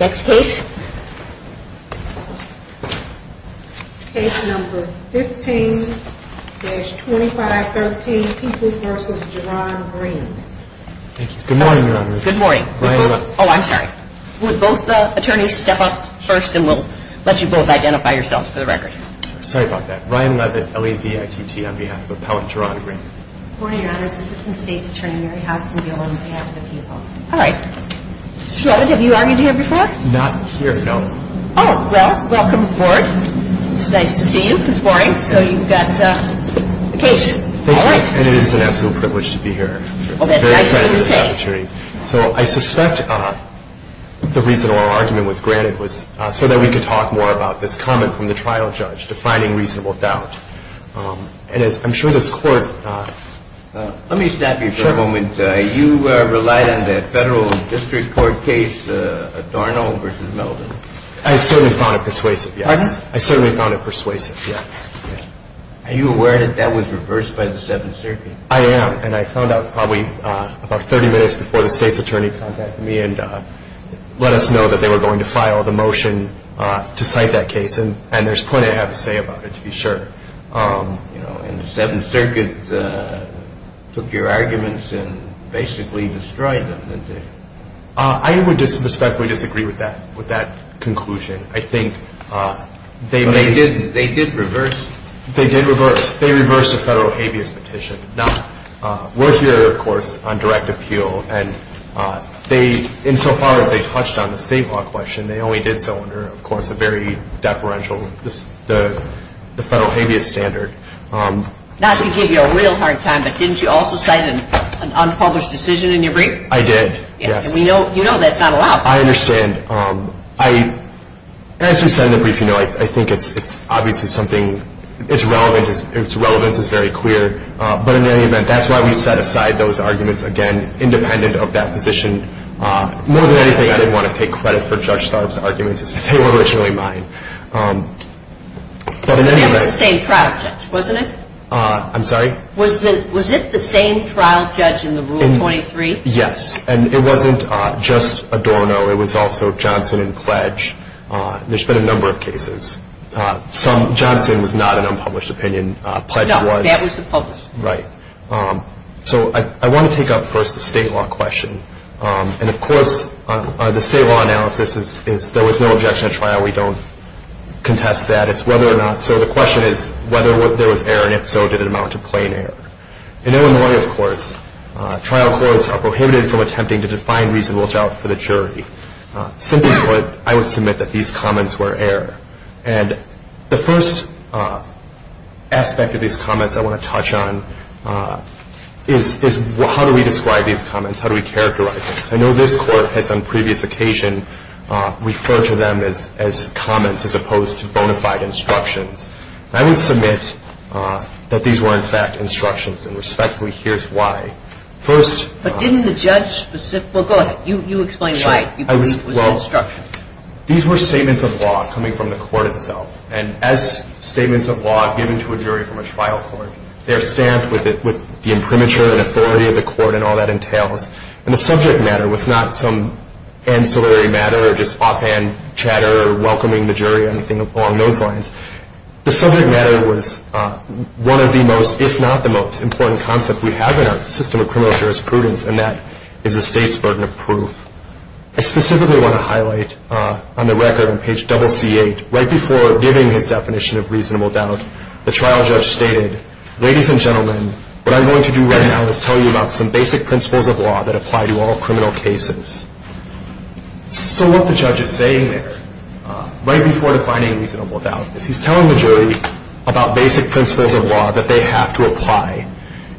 Next case. Case No. 15-2513, People v. Geron Green. Thank you, Good morning, Your Honors. Good morning. Brian, oh I'm sorry. Would both the attorneys step up first and we'll let you both identify yourselves for the record. Sorry about that. Brian Levitt, L-E-V-I-T-T, on behalf of Appellant Geron Green. Good morning, Your Honors. Assistant States Attorney Mary Hudson-Gill on behalf of People. All right. Mr. Levitt, have you argued here before? Not here, no. Oh, well, welcome aboard. It's nice to see you. It's boring, so you've got a case. Thank you, and it is an absolute privilege to be here. Well, that's nice of you to say. So I suspect the reason our argument was granted was so that we could talk more about this comment from the trial judge, defining reasonable doubt. And as I'm sure this Court... Let me stop you for a moment. You relied on the Federal District Court case, Adorno v. Melvin. I certainly found it persuasive, yes. Pardon? I certainly found it persuasive, yes. Are you aware that that was reversed by the Seventh Circuit? I am, and I found out probably about 30 minutes before the State's Attorney contacted me and let us know that they were going to file the motion to cite that case, and there's plenty I have to say about it to be sure. You know, and the Seventh Circuit took your arguments and basically destroyed them, didn't they? I would disrespectfully disagree with that conclusion. I think they may... So they did reverse? They did reverse. They reversed a federal habeas petition. Now, we're here, of course, on direct appeal, and they, insofar as they touched on the state law question, they only did so under, of course, a very deferential, the federal habeas standard. Not to give you a real hard time, but didn't you also cite an unpublished decision in your brief? I did, yes. And we know, you know, that's not allowed. I understand. I, as we said in the brief, you know, I think it's obviously something, its relevance is very clear, but in any event, that's why we set aside those arguments, again, independent of that position. More than anything, I didn't want to take credit for Judge Starb's Yes. And it wasn't just Adorno. It was also Johnson and Pledge. There's been a number of cases. Some, Johnson was not an unpublished opinion. Pledge was. No, that was the published opinion. Right. So I want to take up first the state law question. And, of course, the state law analysis is there was no objection at trial. We don't contest that. It's whether or not, so the question is whether there was error, and if so, did it amount to plain error? In Illinois, of course, trial courts are prohibited from attempting to define reasonable doubt for the jury. Simply put, I would submit that these comments were error. And the first aspect of these comments I want to touch on is how do we describe these comments? How do we characterize them? I know this Court has, on previous occasion, referred to them as comments as opposed to bona fide instructions. I would submit that these were, in fact, instructions, and respectfully, here's why. First But didn't the judge specific? Well, go ahead. You explain why you believe it was an instruction. These were statements of law coming from the Court itself, and as statements of law given to a jury from a trial court, they're stamped with the imprimatur and authority of the Court and all that entails. And the subject matter was not some ancillary matter or just offhand chatter or welcoming the jury or anything along those lines. The subject matter was one of the most, if not the most important concept we have in our system of criminal jurisprudence, and that is the state's burden of proof. I specifically want to highlight on the record on page double C8, right before giving his definition of reasonable doubt, the trial judge stated, ladies and gentlemen, what I'm going to do right now is tell you about some basic principles of law that apply to all criminal cases. So what the judge is saying there, right before defining reasonable doubt, is he's telling the jury about basic principles of law that they have to apply.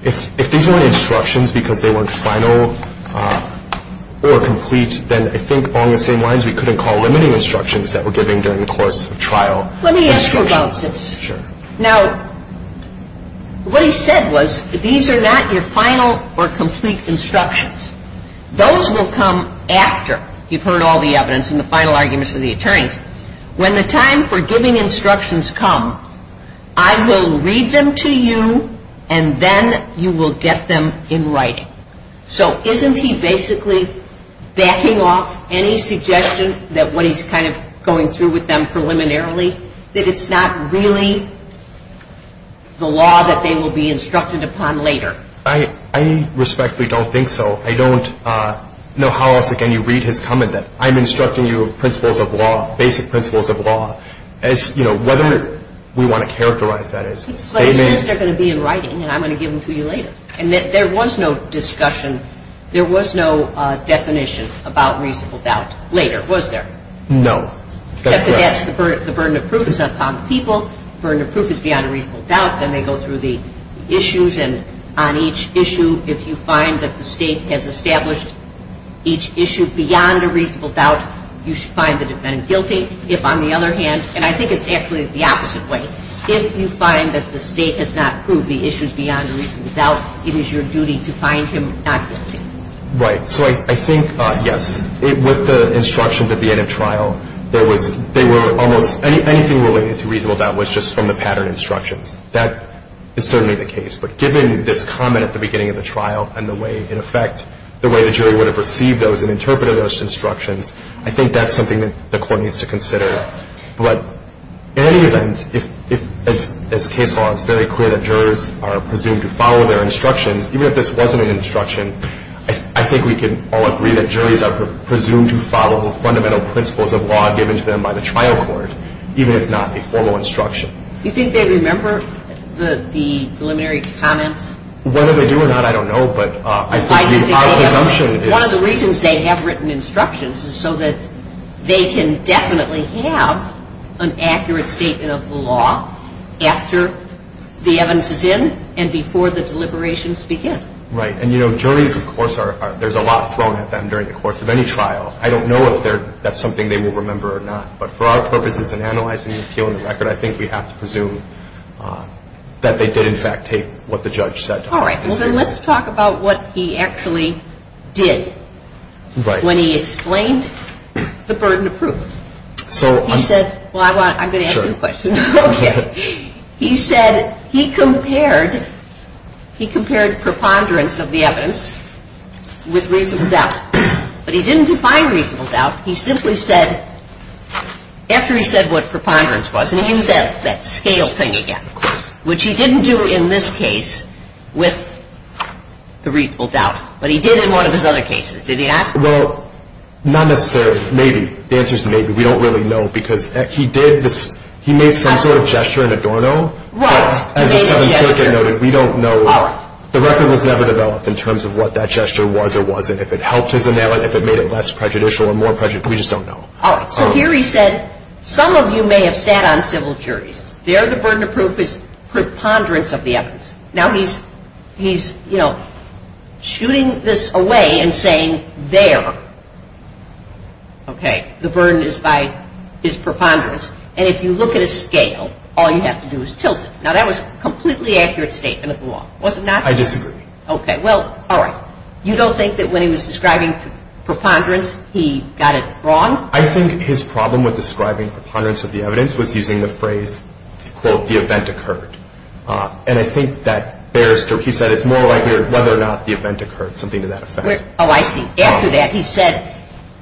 If these weren't instructions because they weren't final or complete, then I think along the same lines, we couldn't call limiting instructions that we're giving during the course of trial instructions. Let me ask you about this. Now, what he said was, these are not your final or complete instructions. Those will come after you've heard all the evidence and the final arguments of the attorneys. When the time for giving instructions come, I will read them to you and then you will get them in writing. So isn't he basically backing off any suggestion that what he's kind of going through with them preliminarily, that it's not really the law that they will be instructed upon later? I respectfully don't think so. I don't know how else, again, you read his comment that I'm instructing you of principles of law, basic principles of law, as, you know, whether we want to characterize that as. But he says they're going to be in writing and I'm going to give them to you later. And there was no discussion, there was no definition about reasonable doubt later, was there? No. Except that that's the burden of proof is upon the people. Burden of proof is beyond a reasonable doubt. Then they go through the issues and on each issue, if you find that the state has established each issue beyond a reasonable doubt, you should find the defendant guilty. If, on the other hand, and I think it's actually the opposite way, if you find that the state has not proved the issues beyond a reasonable doubt, it is your duty to find him not guilty. Right. So I think, yes, with the instructions at the end of trial, there was, they were almost, anything related to reasonable doubt was just from the pattern instructions. That is certainly the case. But given this comment at the beginning of the trial and the way, in effect, the way the jury would have received those and interpreted those instructions, I think that's something that the court needs to consider. But in any event, if, as case law, it's very clear that jurors are presumed to follow their instructions, even if this wasn't an instruction, I think we can all agree that juries are presumed to follow the fundamental principles of law given to them by the trial court, even if not a formal instruction. Do you think they remember the preliminary comments? Whether they do or not, I don't know, but my assumption is. One of the reasons they have written instructions is so that they can definitely have an accurate statement of the law after the evidence is in and before the deliberations begin. Right. And, you know, juries, of course, there's a lot thrown at them during the course of any trial. I don't know if that's something they will remember or not. But for our purposes in analyzing the appeal in the record, I think we have to presume that they did, in fact, take what the judge said to heart. All right. Well, then let's talk about what he actually did when he explained the burden of proof. So he said, well, I'm going to ask you a question. Okay. He said he compared preponderance of the evidence with reasonable doubt. But he didn't define reasonable doubt. He simply said, after he said what preponderance was, and he used that scale thing again, of course, which he didn't do in this case with the reasonable doubt. But he did in one of his other cases. Did he ask? Well, not necessarily. Maybe. The answer is maybe. We don't really know because he did this. He made some sort of gesture in Adorno. Right. As the Seventh Circuit noted, we don't know. The record was never developed in terms of what that gesture was or wasn't, if it helped his analysis, if it made it less prejudicial or more prejudicial. We just don't know. All right. So here he said, some of you may have sat on civil juries. There the burden of proof is preponderance of the evidence. Now, he's, you know, shooting this away and saying there, okay, the burden is by his preponderance. And if you look at a scale, all you have to do is tilt it. Now, that was a completely accurate statement of the law, was it not? I disagree. Okay. Well, all right. You don't think that when he was describing preponderance, he got it wrong? I think his problem with describing preponderance of the evidence was using the phrase, quote, the event occurred. And I think that bears to, he said it's more likely whether or not the event occurred, something to that effect. Oh, I see. After that, he said,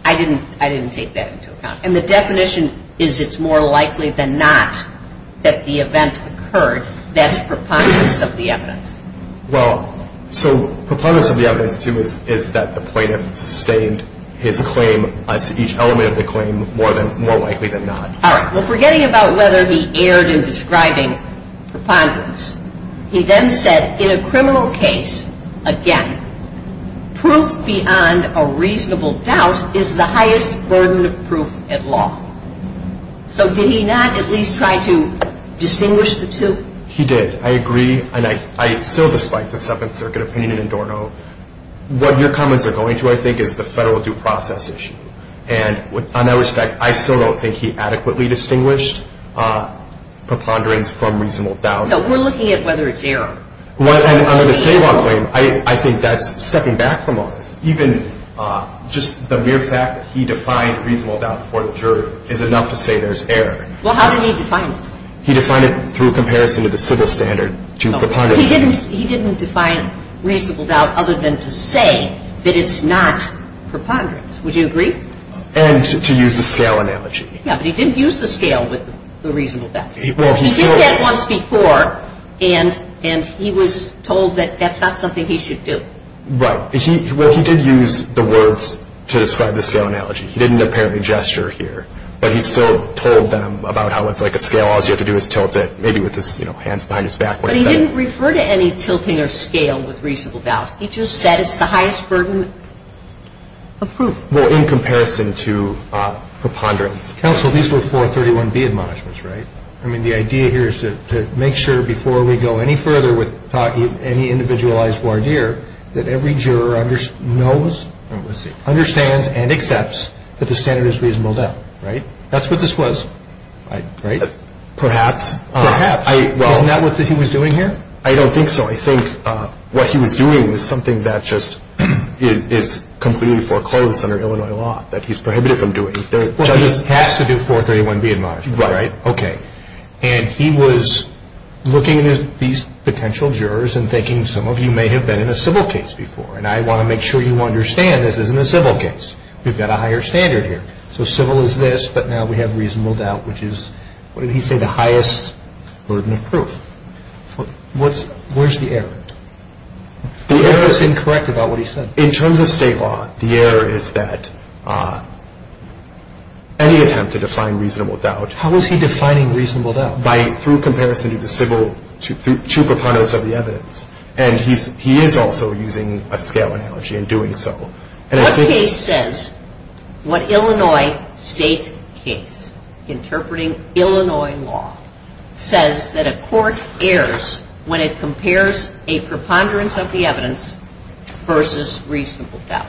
I didn't take that into account. And the definition is it's more likely than not that the event occurred. That's preponderance of the evidence. Well, so preponderance of the evidence, too, is that the plaintiff sustained his claim, as to each element of the claim, more likely than not. All right. Well, forgetting about whether he erred in describing preponderance, he then said, in a criminal case, again, proof beyond a reasonable doubt is the highest burden of proof at law. So did he not at least try to distinguish the two? He did. I agree. And I still, despite the Seventh Circuit opinion in Adorno, what your comments are going to, I think, is the federal due process issue. And on that respect, I still don't think he adequately distinguished preponderance from reasonable doubt. No, we're looking at whether it's error. And under the state law claim, I think that's stepping back from all this. Even just the mere fact that he defined reasonable doubt before the jury is enough to say there's error. Well, how did he define it? He defined it through comparison to the civil standard to preponderance. He didn't define reasonable doubt other than to say that it's not preponderance. Would you agree? And to use the scale analogy. Yeah, but he didn't use the scale with the reasonable doubt. He did that once before. And he was told that that's not something he should do. Right. Well, he did use the words to describe the scale analogy. He didn't apparently gesture here. But he still told them about how it's like a scale, all you have to do is tilt it, maybe with his hands behind his back. But he didn't refer to any tilting or scale with reasonable doubt. He just said it's the highest burden of proof. Well, in comparison to preponderance. Counsel, these were 431B admonishments, right? I mean, the idea here is to make sure before we go any further with any individualized voir dire, that every juror knows, understands, and accepts that the standard is reasonable doubt. Right? That's what this was, right? Perhaps. Perhaps. Isn't that what he was doing here? I don't think so. I think what he was doing was something that just is completely foreclosed under Illinois law, that he's prohibited from doing. Well, he has to do 431B admonishments, right? Okay. And he was looking at these potential jurors and thinking some of you may have been in a civil case before, and I want to make sure you understand this isn't a civil case. We've got a higher standard here. So civil is this, but now we have reasonable doubt, which is, what did he say, the highest burden of proof. Where's the error? The error is incorrect about what he said. In terms of state law, the error is that any attempt to define reasonable doubt How is he defining reasonable doubt? By, through comparison to the civil, through preponderance of the evidence. And he is also using a scale analogy in doing so. What case says what Illinois state case, interpreting Illinois law, says that a court errs when it compares a preponderance of the evidence versus reasonable doubt?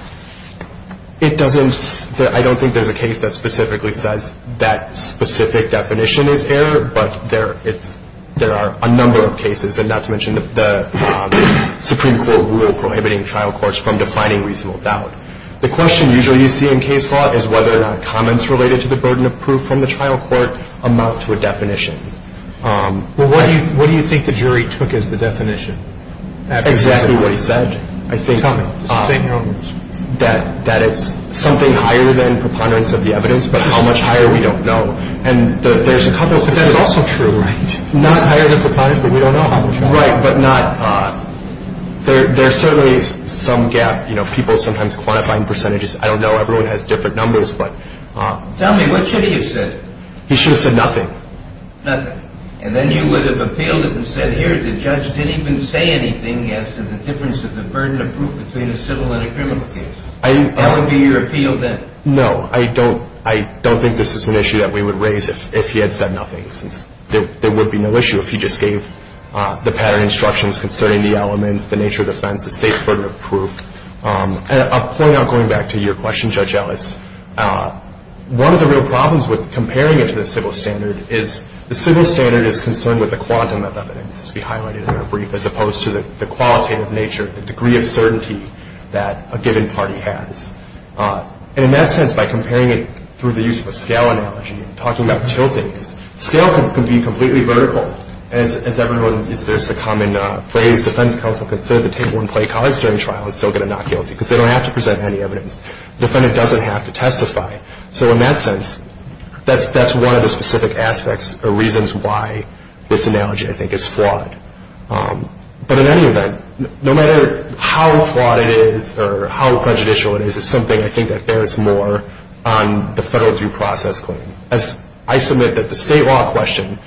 It doesn't, I don't think there's a case that specifically says that specific definition is error, but there are a number of cases, and not to mention the Supreme Court rule prohibiting trial courts from defining reasonable doubt. The question usually you see in case law is whether or not comments related to the burden of proof from the trial court amount to a definition. Well, what do you think the jury took as the definition? Exactly what he said. I think that it's something higher than preponderance of the evidence, but how much higher we don't know. But that's also true, right? Not higher than preponderance, but we don't know. Right, but not, there's certainly some gap, you know, people sometimes quantifying percentages. I don't know, everyone has different numbers. Tell me, what should he have said? He should have said nothing. Nothing. And then you would have appealed it and said, here, the judge didn't even say anything as to the difference of the burden of proof between a civil and a criminal case. That would be your appeal then? No, I don't think this is an issue that we would raise if he had said nothing, since there would be no issue if he just gave the pattern instructions concerning the elements, the nature of defense, the state's burden of proof. I'll point out, going back to your question, Judge Ellis, one of the real problems with comparing it to the civil standard is the civil standard is concerned with the quantum of evidence, as we highlighted in our brief, as opposed to the qualitative nature, the degree of certainty that a given party has. And in that sense, by comparing it through the use of a scale analogy and talking about tilting, scale can be completely vertical, as everyone, there's the common phrase, defense counsel can serve the table and play cards during trial and still get a not guilty, because they don't have to present any evidence. The defendant doesn't have to testify. So in that sense, that's one of the specific aspects or reasons why this analogy, I think, is flawed. But in any event, no matter how flawed it is or how prejudicial it is, it's something I think that bears more on the federal due process claim. I submit that the state law question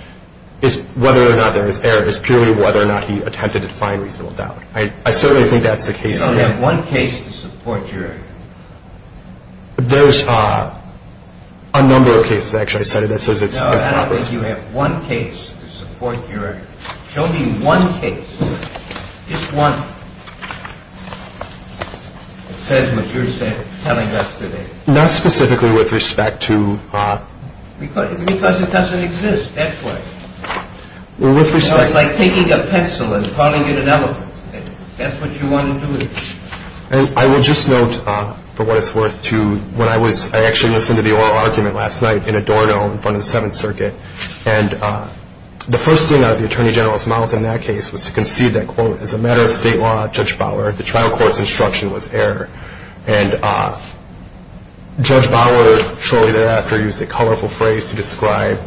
is whether or not there is error, is purely whether or not he attempted to define reasonable doubt. I certainly think that's the case. You only have one case to support your argument. There's a number of cases, actually. No, I don't think you have one case to support your argument. Show me one case, just one, that says what you're telling us today. Not specifically with respect to... Because it doesn't exist that way. Well, with respect... It's like taking a pencil and calling it an elephant. That's what you want to do with it. And I will just note, for what it's worth, too, when I actually listened to the oral argument last night in a doorknob in front of the Seventh Circuit, and the first thing that the Attorney General's mouth in that case was to concede that, quote, as a matter of state law, Judge Bauer, the trial court's instruction was error. And Judge Bauer shortly thereafter used a colorful phrase to describe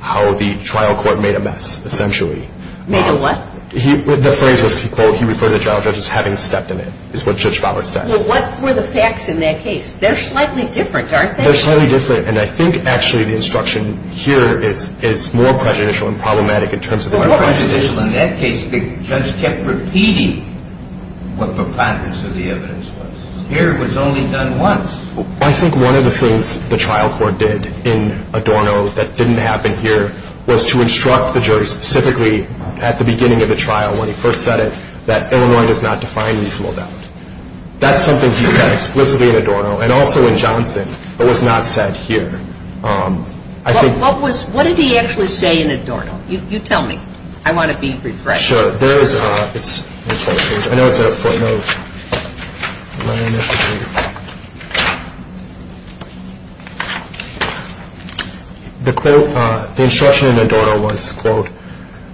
how the trial court made a mess, essentially. Made a what? The phrase was, he referred to the trial judge as having stepped in it, is what Judge Bauer said. Well, what were the facts in that case? They're slightly different, aren't they? They're slightly different, and I think, actually, the instruction here is more prejudicial and problematic in terms of... In that case, the judge kept repeating what preponderance of the evidence was. Here, it was only done once. I think one of the things the trial court did in Adorno that didn't happen here was to instruct the jury specifically at the beginning of the trial when he first said it that Illinois does not define reasonable doubt. That's something he said explicitly in Adorno and also in Johnson, but was not said here. I think... What did he actually say in Adorno? You tell me. I want to be refreshed. Sure. There is a... I know it's a footnote. The instruction in Adorno was, quote,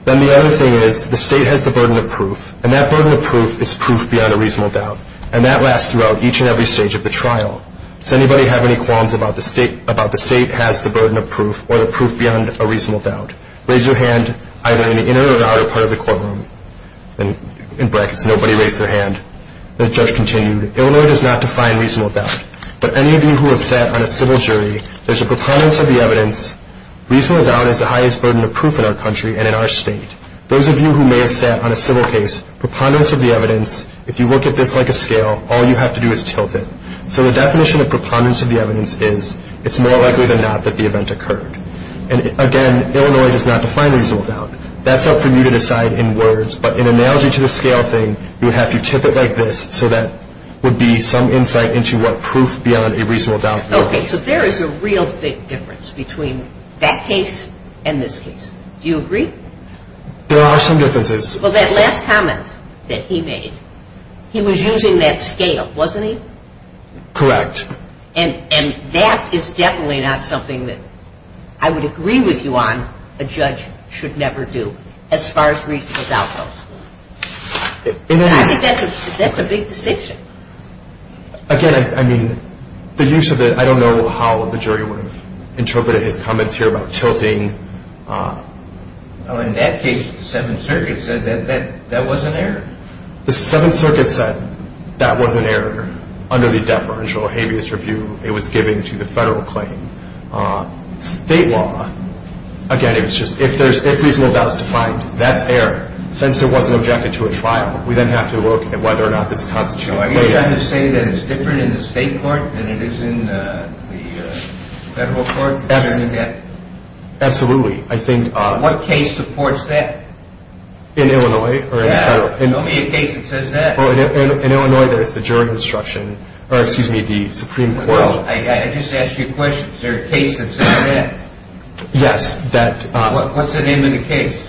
then the other thing is the state has the burden of proof, and that burden of proof is proof beyond a reasonable doubt, and that lasts throughout each and every stage of the trial. Does anybody have any qualms about the state has the burden of proof or the proof beyond a reasonable doubt? Raise your hand either in the inner or the outer part of the courtroom. In brackets, nobody raised their hand. The judge continued, Illinois does not define reasonable doubt, but any of you who have sat on a civil jury, there's a preponderance of the evidence. Reasonable doubt is the highest burden of proof in our country and in our state. Those of you who may have sat on a civil case, preponderance of the evidence. If you look at this like a scale, all you have to do is tilt it. So the definition of preponderance of the evidence is it's more likely than not that the event occurred. And, again, Illinois does not define reasonable doubt. That's up for you to decide in words, but in analogy to the scale thing, you have to tip it like this so that would be some insight into what proof beyond a reasonable doubt. Okay, so there is a real big difference between that case and this case. Do you agree? There are some differences. Well, that last comment that he made, he was using that scale, wasn't he? Correct. And that is definitely not something that I would agree with you on a judge should never do as far as reasonable doubt goes. I think that's a big distinction. Again, I mean, the use of it, I don't know how the jury would have interpreted his comments here about tilting. Well, in that case, the Seventh Circuit said that that was an error. The Seventh Circuit said that was an error under the Department of Juvenile Habeas Review. It was given to the federal claim. State law, again, it was just if reasonable doubt is defined, that's error. Since it wasn't objected to a trial, we then have to look at whether or not this constituted a claim. Are you trying to say that it's different in the state court than it is in the federal court concerning that? Absolutely. What case supports that? In Illinois. Yeah. Show me a case that says that. In Illinois, there's the Supreme Court. I just asked you a question. Is there a case that says that? Yes. What's the name of the case?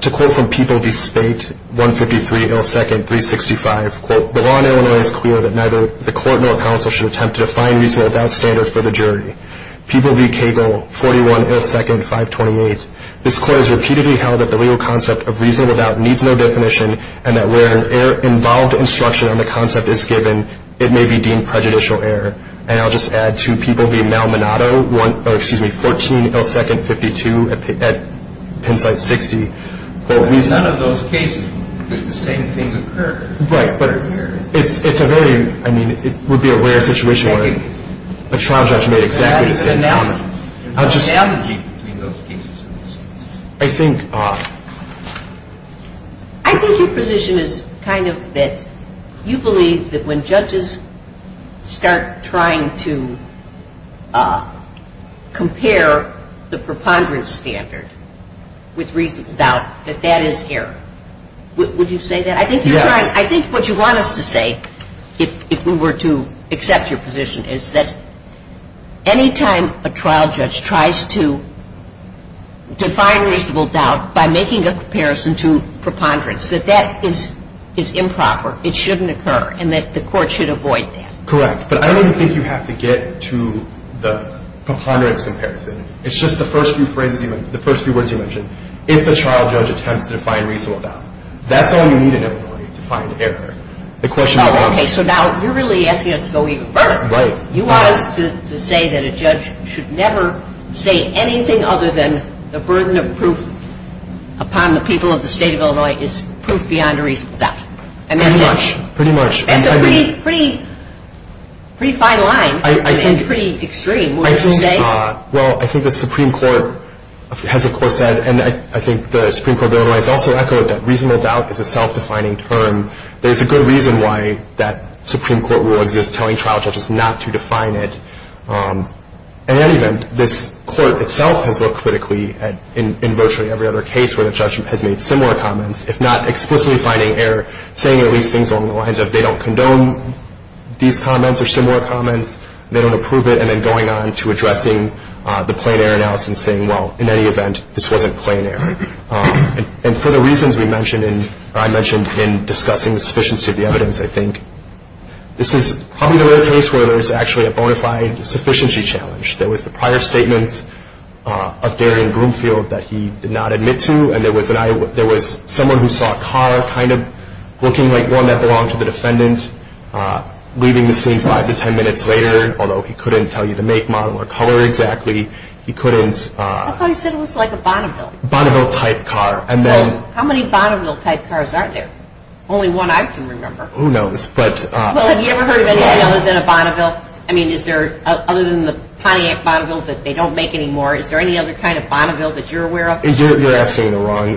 To quote from People v. Spate, 153 L. 2nd, 365, quote, the law in Illinois is clear that neither the court nor counsel should attempt to define reasonable doubt standards for the jury. People v. Cagle, 41 L. 2nd, 528, this court has repeatedly held that the legal concept of reasonable doubt needs no definition and that where an error-involved instruction on the concept is given, it may be deemed prejudicial error. And I'll just add to People v. Malmonado, 14 L. 2nd, 52 at Pennsite 60, quote. None of those cases did the same thing occur. Right. But it's a very, I mean, it would be a rare situation where a trial judge made exactly the same comment. There's an analogy between those cases. I think your position is kind of that you believe that when judges start trying to compare the preponderance standard with reasonable doubt, that that is error. Would you say that? Yes. I think what you want us to say, if we were to accept your position, is that any time a trial judge tries to define reasonable doubt by making a comparison to preponderance, that that is improper. It shouldn't occur. And that the court should avoid that. Correct. But I don't even think you have to get to the preponderance comparison. It's just the first few phrases, the first few words you mentioned. If a trial judge attempts to define reasonable doubt, that's all you need in a jury to find error. Okay, so now you're really asking us to go even further. Right. You want us to say that a judge should never say anything other than the burden of proof upon the people of the State of Illinois is proof beyond reasonable doubt. Pretty much. That's a pretty fine line and pretty extreme. What would you say? Well, I think the Supreme Court has of course said, and I think the Supreme Court of Illinois has also echoed, that reasonable doubt is a self-defining term. There's a good reason why that Supreme Court rule exists telling trial judges not to define it. In any event, this court itself has looked critically in virtually every other case where the judge has made similar comments, if not explicitly finding error, saying at least things along the lines of, they don't condone these comments or similar comments, they don't approve it, and then going on to addressing the plain error analysis and saying, well, in any event, this wasn't plain error. And for the reasons I mentioned in discussing the sufficiency of the evidence, I think this is probably the rare case where there's actually a bona fide sufficiency challenge. There was the prior statements of Darian Broomfield that he did not admit to, and there was someone who saw a car kind of looking like one that belonged to the defendant, leaving the scene five to ten minutes later, although he couldn't tell you the make, model, or color exactly. I thought he said it was like a Bonneville. Bonneville-type car. How many Bonneville-type cars are there? Only one I can remember. Who knows. Well, have you ever heard of anything other than a Bonneville? I mean, is there, other than the Pontiac Bonneville that they don't make anymore, is there any other kind of Bonneville that you're aware of? You're asking the wrong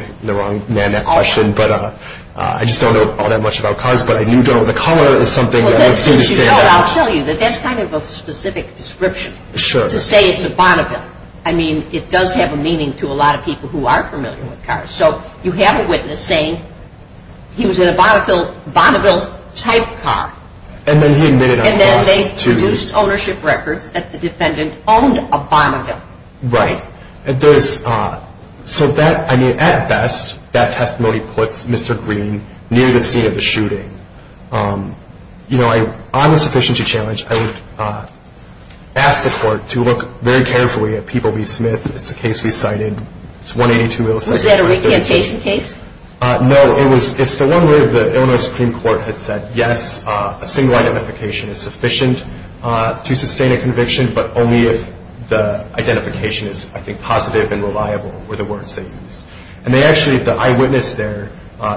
question, but I just don't know all that much about cars, but I do know the color is something that looks interesting. I'll tell you that that's kind of a specific description. Sure. Just to say it's a Bonneville, I mean, it does have a meaning to a lot of people who are familiar with cars. So you have a witness saying he was in a Bonneville-type car. And then he admitted on the bus to... And then they produced ownership records that the defendant owned a Bonneville. Right. So that, I mean, at best, that testimony puts Mr. Green near the scene of the shooting. You know, on the sufficiency challenge, I would ask the court to look very carefully at People v. Smith. It's a case we cited. It's 182... Was that a recantation case? No, it's the one where the Illinois Supreme Court had said, yes, a single identification is sufficient to sustain a conviction, but only if the identification is, I think, positive and reliable were the words they used. And they actually, the eyewitness there,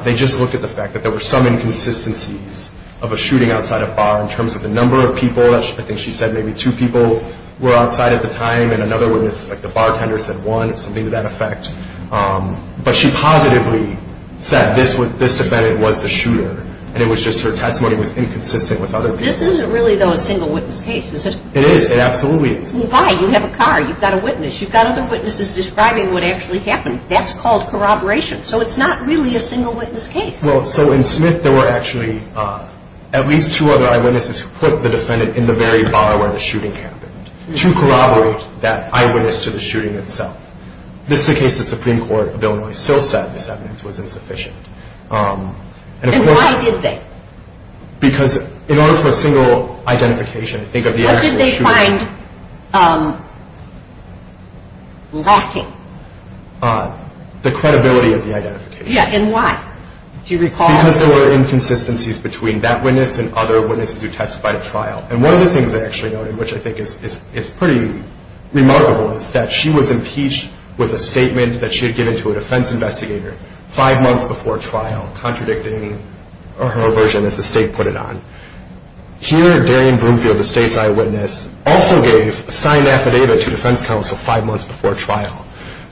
they just looked at the fact that there were some inconsistencies of a shooting outside a bar in terms of the number of people. I think she said maybe two people were outside at the time, and another witness, like the bartender, said one, something to that effect. But she positively said this defendant was the shooter, and it was just her testimony was inconsistent with other people's. This isn't really, though, a single witness case, is it? It is. It absolutely is. Why? You have a car. You've got a witness. You've got other witnesses describing what actually happened. That's called corroboration. So it's not really a single witness case. Well, so in Smith there were actually at least two other eyewitnesses who put the defendant in the very bar where the shooting happened to corroborate that eyewitness to the shooting itself. This is the case the Supreme Court of Illinois still said this evidence was insufficient. And why did they? Because in order for a single identification, think of the actual shooting. What did they find lacking? The credibility of the identification. Yeah, and why? Do you recall? Because there were inconsistencies between that witness and other witnesses who testified at trial. And one of the things I actually note, and which I think is pretty remarkable, is that she was impeached with a statement that she had given to a defense investigator five months before trial contradicting her version, as the state put it on. Here, Darian Broomfield, the state's eyewitness, also gave a signed affidavit to defense counsel five months before trial.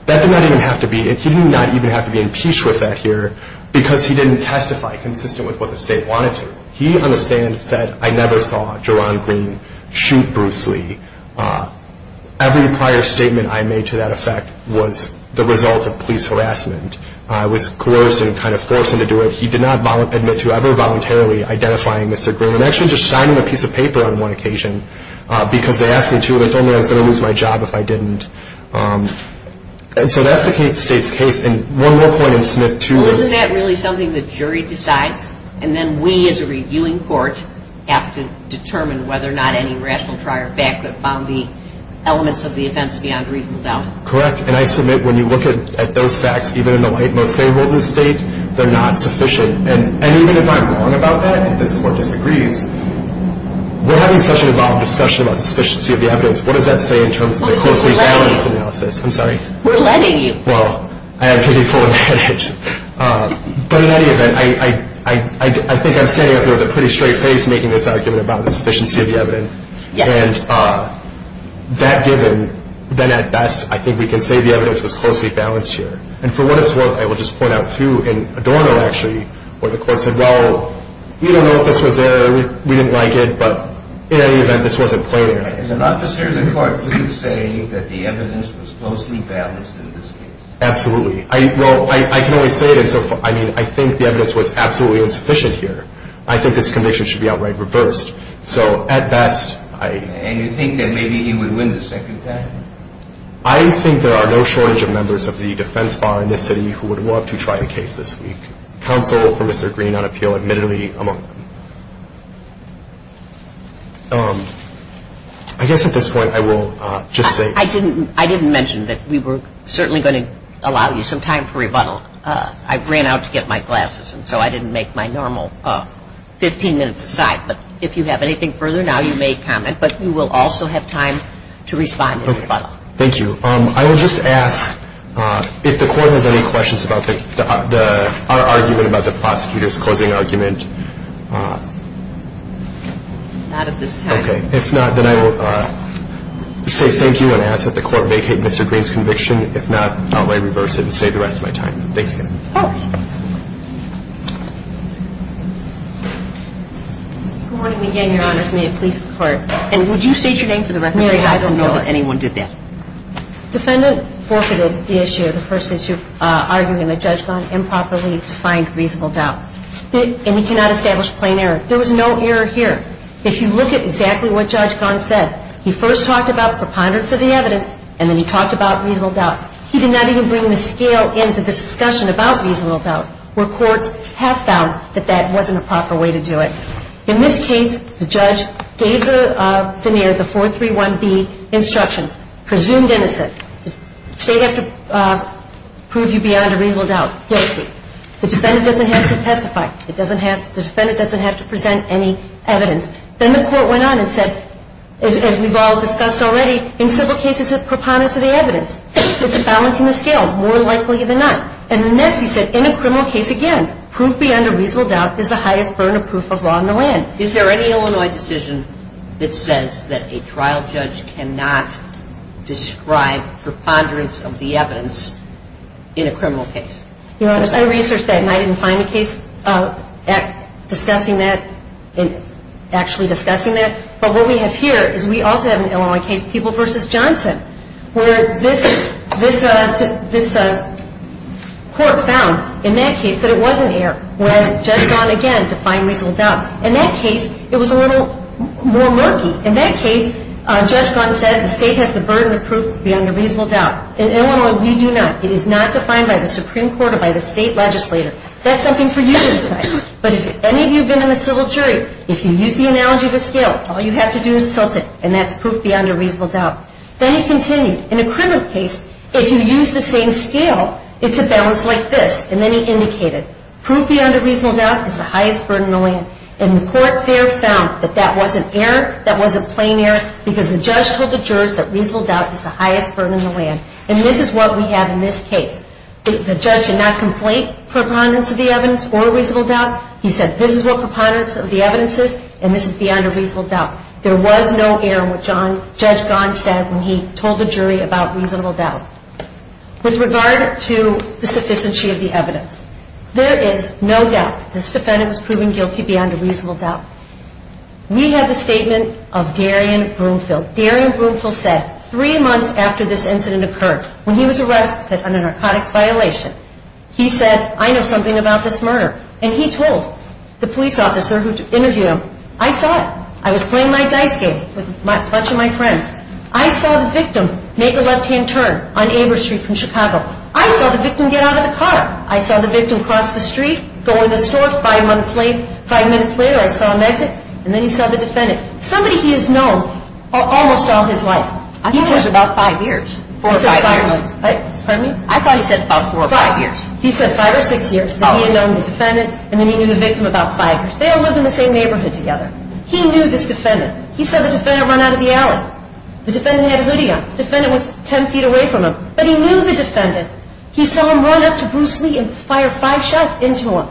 That did not even have to be, he did not even have to be impeached with that here because he didn't testify consistent with what the state wanted to. He, on the stand, said, I never saw Jerron Green shoot Bruce Lee. Every prior statement I made to that effect was the result of police harassment. I was coerced and kind of forced him to do it. He did not admit to ever voluntarily identifying Mr. Green and actually just signing a piece of paper on one occasion because they asked me to. They told me I was going to lose my job if I didn't. And so that's the state's case. And one more point in Smith, too. Well, isn't that really something the jury decides and then we as a reviewing court have to determine whether or not any rational trial fact that found the elements of the offense beyond reasonable doubt? Correct. And I submit when you look at those facts, even in the light most favorable to the state, they're not sufficient. And even if I'm wrong about that and this court disagrees, we're having such an involved discussion about the sufficiency of the evidence. What does that say in terms of the closely balanced analysis? We're letting you. I'm sorry. We're letting you. Well, I am taking full advantage. But in any event, I think I'm standing up here with a pretty straight face making this argument about the sufficiency of the evidence. Yes. And that given, then at best, I think we can say the evidence was closely balanced here. And for what it's worth, I will just point out, too, in Adorno, actually, where the court said, well, we don't know if this was there. We didn't like it. But in any event, this wasn't played in. As an officer of the court, would you say that the evidence was closely balanced in this case? Absolutely. Well, I can only say it in so far. I mean, I think the evidence was absolutely insufficient here. I think this conviction should be outright reversed. So at best, I. And you think that maybe he would win the second time? I think there are no shortage of members of the defense bar in this city who would want to try the case this week. Counsel for Mr. Green on appeal admittedly among them. I guess at this point I will just say. I didn't mention that we were certainly going to allow you some time for rebuttal. I ran out to get my glasses, and so I didn't make my normal 15 minutes aside. But if you have anything further now, you may comment. But you will also have time to respond in rebuttal. Thank you. I will just ask if the court has any questions about our argument about the prosecutor's closing argument. Not at this time. Okay. If not, then I will say thank you and ask that the court vacate Mr. Green's conviction. If not, outright reverse it and save the rest of my time. Thanks again. Of course. Good morning again, Your Honors. May it please the Court. And would you state your name for the record? Mary, I don't know that anyone did that. Defendant forfeited the issue, the first issue, arguing that Judge Gant improperly defined reasonable doubt. And he cannot establish plain error. There was no error here. If you look at exactly what Judge Gant said, he first talked about preponderance of the evidence, and then he talked about reasonable doubt. He did not even bring the scale into the discussion about reasonable doubt, where courts have found that that wasn't a proper way to do it. In this case, the judge gave the fineer, the 431B instructions, presumed innocent. The state has to prove you beyond a reasonable doubt. Guilty. The defendant doesn't have to testify. The defendant doesn't have to present any evidence. Then the court went on and said, as we've all discussed already, in civil cases, it's preponderance of the evidence. It's balancing the scale, more likely than not. And then next he said, in a criminal case, again, is the highest burden of proof of law in the land. Is there any Illinois decision that says that a trial judge cannot describe preponderance of the evidence in a criminal case? Your Honor, I researched that, and I didn't find a case discussing that, actually discussing that. But what we have here is we also have an Illinois case, People v. Johnson, where this court found, in that case, that it wasn't here, where Judge Gunn, again, defined reasonable doubt. In that case, it was a little more murky. In that case, Judge Gunn said the state has the burden of proof beyond a reasonable doubt. In Illinois, we do not. It is not defined by the Supreme Court or by the state legislature. That's something for you to decide. But if any of you have been in a civil jury, if you use the analogy of a scale, all you have to do is tilt it, and that's proof beyond a reasonable doubt. Then he continued, in a criminal case, if you use the same scale, it's a balance like this. And then he indicated proof beyond a reasonable doubt is the highest burden in the land. And the court there found that that was an error, that was a plain error, because the judge told the jurors that reasonable doubt is the highest burden in the land. And this is what we have in this case. The judge did not conflate preponderance of the evidence or reasonable doubt. He said this is what preponderance of the evidence is, and this is beyond a reasonable doubt. There was no error in what Judge Gahn said when he told the jury about reasonable doubt. With regard to the sufficiency of the evidence, there is no doubt. This defendant was proven guilty beyond a reasonable doubt. We have the statement of Darian Broomfield. Darian Broomfield said three months after this incident occurred, when he was arrested on a narcotics violation, he said, I know something about this murder. And he told the police officer who interviewed him, I saw it. I was playing my dice game with a bunch of my friends. I saw the victim make a left-hand turn on Abra Street from Chicago. I saw the victim get out of the car. I saw the victim cross the street, go in the store five minutes later. I saw him exit, and then he saw the defendant. Somebody he has known almost all his life. I thought it was about five years. He said five years. Pardon me? I thought he said about four or five years. He said five or six years. Then he had known the defendant, and then he knew the victim about five years. They all live in the same neighborhood together. He knew this defendant. He saw the defendant run out of the alley. The defendant had a hoodie on. The defendant was ten feet away from him. But he knew the defendant. He saw him run up to Bruce Lee and fire five shots into him.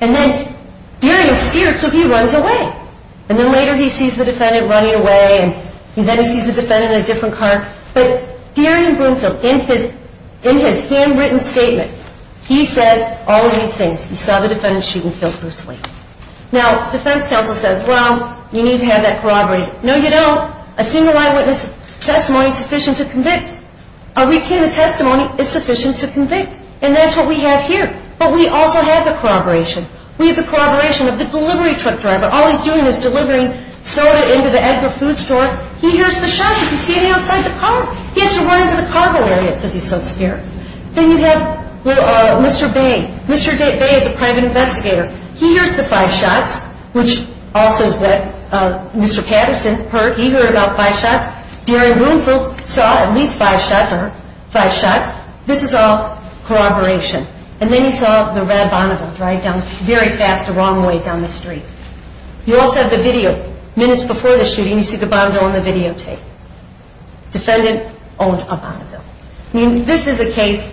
And then Darian scared, so he runs away. And then later he sees the defendant running away, and then he sees the defendant in a different car. But Darian Broomfield, in his handwritten statement, he said all these things. He saw the defendant shoot and kill Bruce Lee. Now, defense counsel says, well, you need to have that corroborated. No, you don't. A single eyewitness testimony is sufficient to convict. A weekend of testimony is sufficient to convict. And that's what we have here. But we also have the corroboration. We have the corroboration of the delivery truck driver. All he's doing is delivering soda into the Edgar food store. He hears the shots. He's standing outside the car. He has to run into the cargo area because he's so scared. Then you have Mr. Bay. Mr. Bay is a private investigator. He hears the five shots, which also is what Mr. Patterson heard. He heard about five shots. Darian Broomfield saw at least five shots, or five shots. This is all corroboration. And then he saw the red Bonneville drive down very fast the wrong way down the street. You also have the video. Minutes before the shooting, you see the Bonneville on the videotape. Defendant owned a Bonneville. I mean, this is a case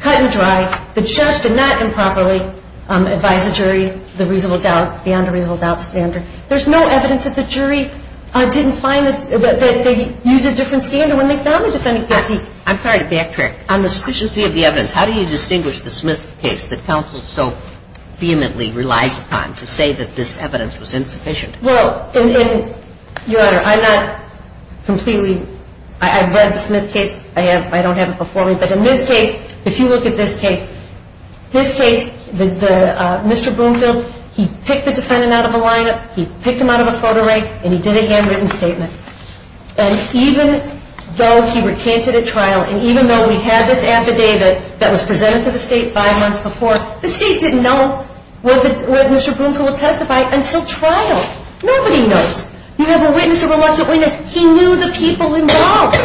cut and dry. The judge did not improperly advise the jury the reasonable doubt, the under reasonable doubt standard. There's no evidence that the jury didn't find that they used a different standard when they found the defendant guilty. I'm sorry to backtrack. On the sufficiency of the evidence, how do you distinguish the Smith case that counsel so vehemently relies upon to say that this evidence was insufficient? Well, in your honor, I'm not completely. I've read the Smith case. I don't have it before me. But in this case, if you look at this case, this case, Mr. Broomfield, he picked the defendant out of a lineup. He picked him out of a photo rank. And he did a handwritten statement. And even though he recanted at trial, and even though we had this affidavit that was presented to the state five months before, the state didn't know whether Mr. Broomfield would testify until trial. Nobody knows. You have a witness, a reluctant witness. He knew the people involved.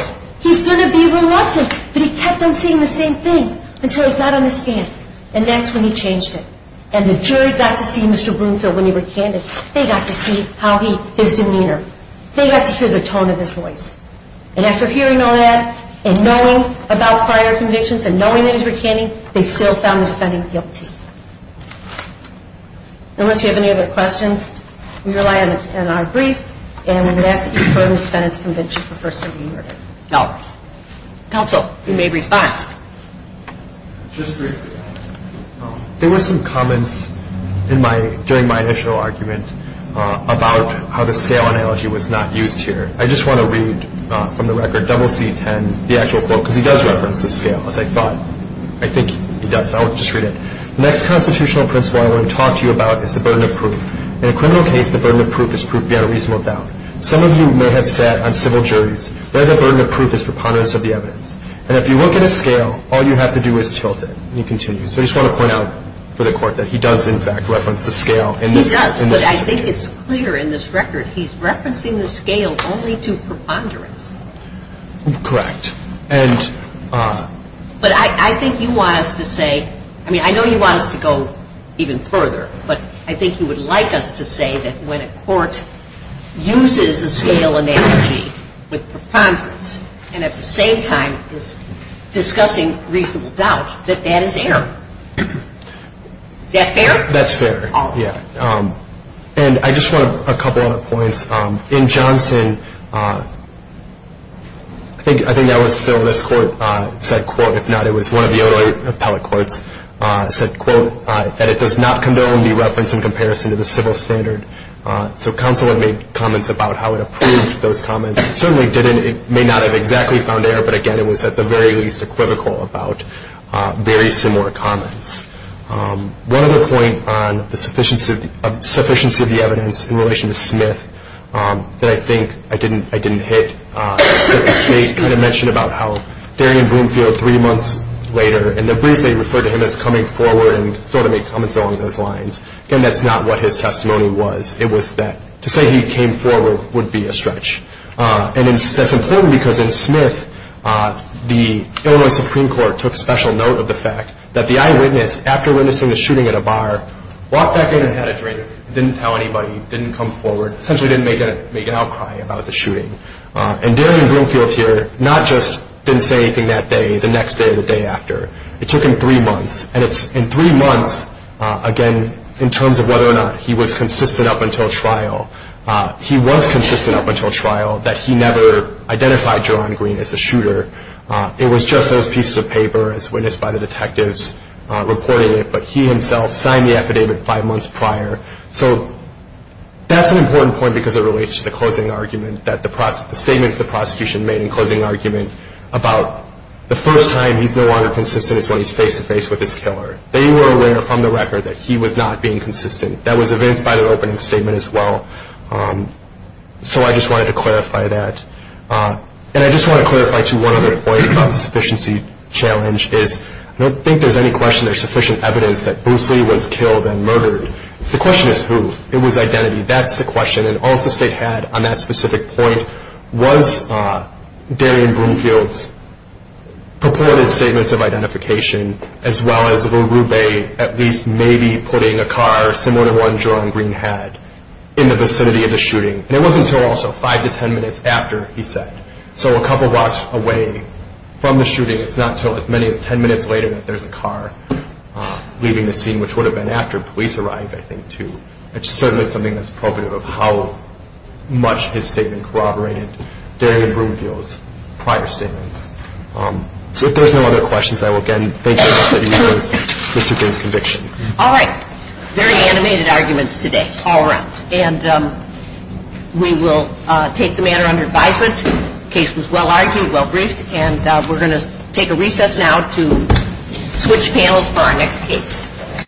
He's going to be reluctant. But he kept on saying the same thing until he got on the stand. And that's when he changed it. And the jury got to see Mr. Broomfield when he recanted. They got to see how he, his demeanor. They got to hear the tone of his voice. And after hearing all that and knowing about prior convictions and knowing that he was recanting, they still found the defendant guilty. Unless you have any other questions, we rely on our brief. And we would ask that you confirm the defendant's conviction for first degree murder. Counsel, you may respond. Just briefly, there were some comments during my initial argument about how the scale analogy was not used here. I just want to read from the record, double C-10, the actual quote, because he does reference the scale, as I thought. I think he does. I'll just read it. The next constitutional principle I want to talk to you about is the burden of proof. In a criminal case, the burden of proof is proof beyond a reasonable doubt. Some of you may have sat on civil juries where the burden of proof is preponderance of the evidence. And if you look at a scale, all you have to do is tilt it. And you continue. So I just want to point out for the Court that he does, in fact, reference the scale in this case. He does. But I think it's clear in this record. He's referencing the scale only to preponderance. Correct. But I think you want us to say, I mean, I know you want us to go even further. But I think you would like us to say that when a court uses a scale analogy with preponderance and at the same time is discussing reasonable doubt, that that is error. Is that fair? That's fair. Yeah. And I just want a couple other points. In Johnson, I think that was still this court said, quote, if not it was one of the other appellate courts, said, quote, that it does not condone the reference in comparison to the civil standard. So counsel had made comments about how it approved those comments. It certainly didn't. It may not have exactly found error. But, again, it was at the very least equivocal about very similar comments. One other point on the sufficiency of the evidence in relation to Smith that I think I didn't hit, that the State kind of mentioned about how Darian Bloomfield three months later in the brief they referred to him as coming forward and sort of made comments along those lines. Again, that's not what his testimony was. It was that to say he came forward would be a stretch. And that's important because in Smith the Illinois Supreme Court took special note of the fact that the eyewitness, after witnessing the shooting at a bar, walked back in and had a drink, didn't tell anybody, didn't come forward, essentially didn't make an outcry about the shooting. And Darian Bloomfield here not just didn't say anything that day, the next day or the day after. It took him three months. And it's in three months, again, in terms of whether or not he was consistent up until trial. He was consistent up until trial that he never identified Jerome Green as the shooter. It was just those pieces of paper as witnessed by the detectives reporting it. But he himself signed the affidavit five months prior. So that's an important point because it relates to the closing argument, the statements the prosecution made in closing argument about the first time he's no longer consistent is when he's face-to-face with his killer. They were aware from the record that he was not being consistent. That was evidenced by the opening statement as well. So I just wanted to clarify that. And I just want to clarify, too, one other point about the sufficiency challenge is I don't think there's any question there's sufficient evidence that Bruce Lee was killed and murdered. The question is who. It was identity. That's the question. And all the state had on that specific point was Darian Bloomfield's purported statements of identification as well as Villarube at least maybe putting a car similar to one Jerome Green had in the vicinity of the shooting. And it wasn't until also five to ten minutes after he said. So a couple blocks away from the shooting. It's not until as many as ten minutes later that there's a car leaving the scene, which would have been after police arrived, I think, too. It's certainly something that's probative of how much his statement corroborated Darian Bloomfield's prior statements. So if there's no other questions, I will again thank you all for using Mr. Green's conviction. All right. Very animated arguments today all around. And we will take the matter under advisement. The case was well argued, well briefed. And we're going to take a recess now to switch panels for our next case.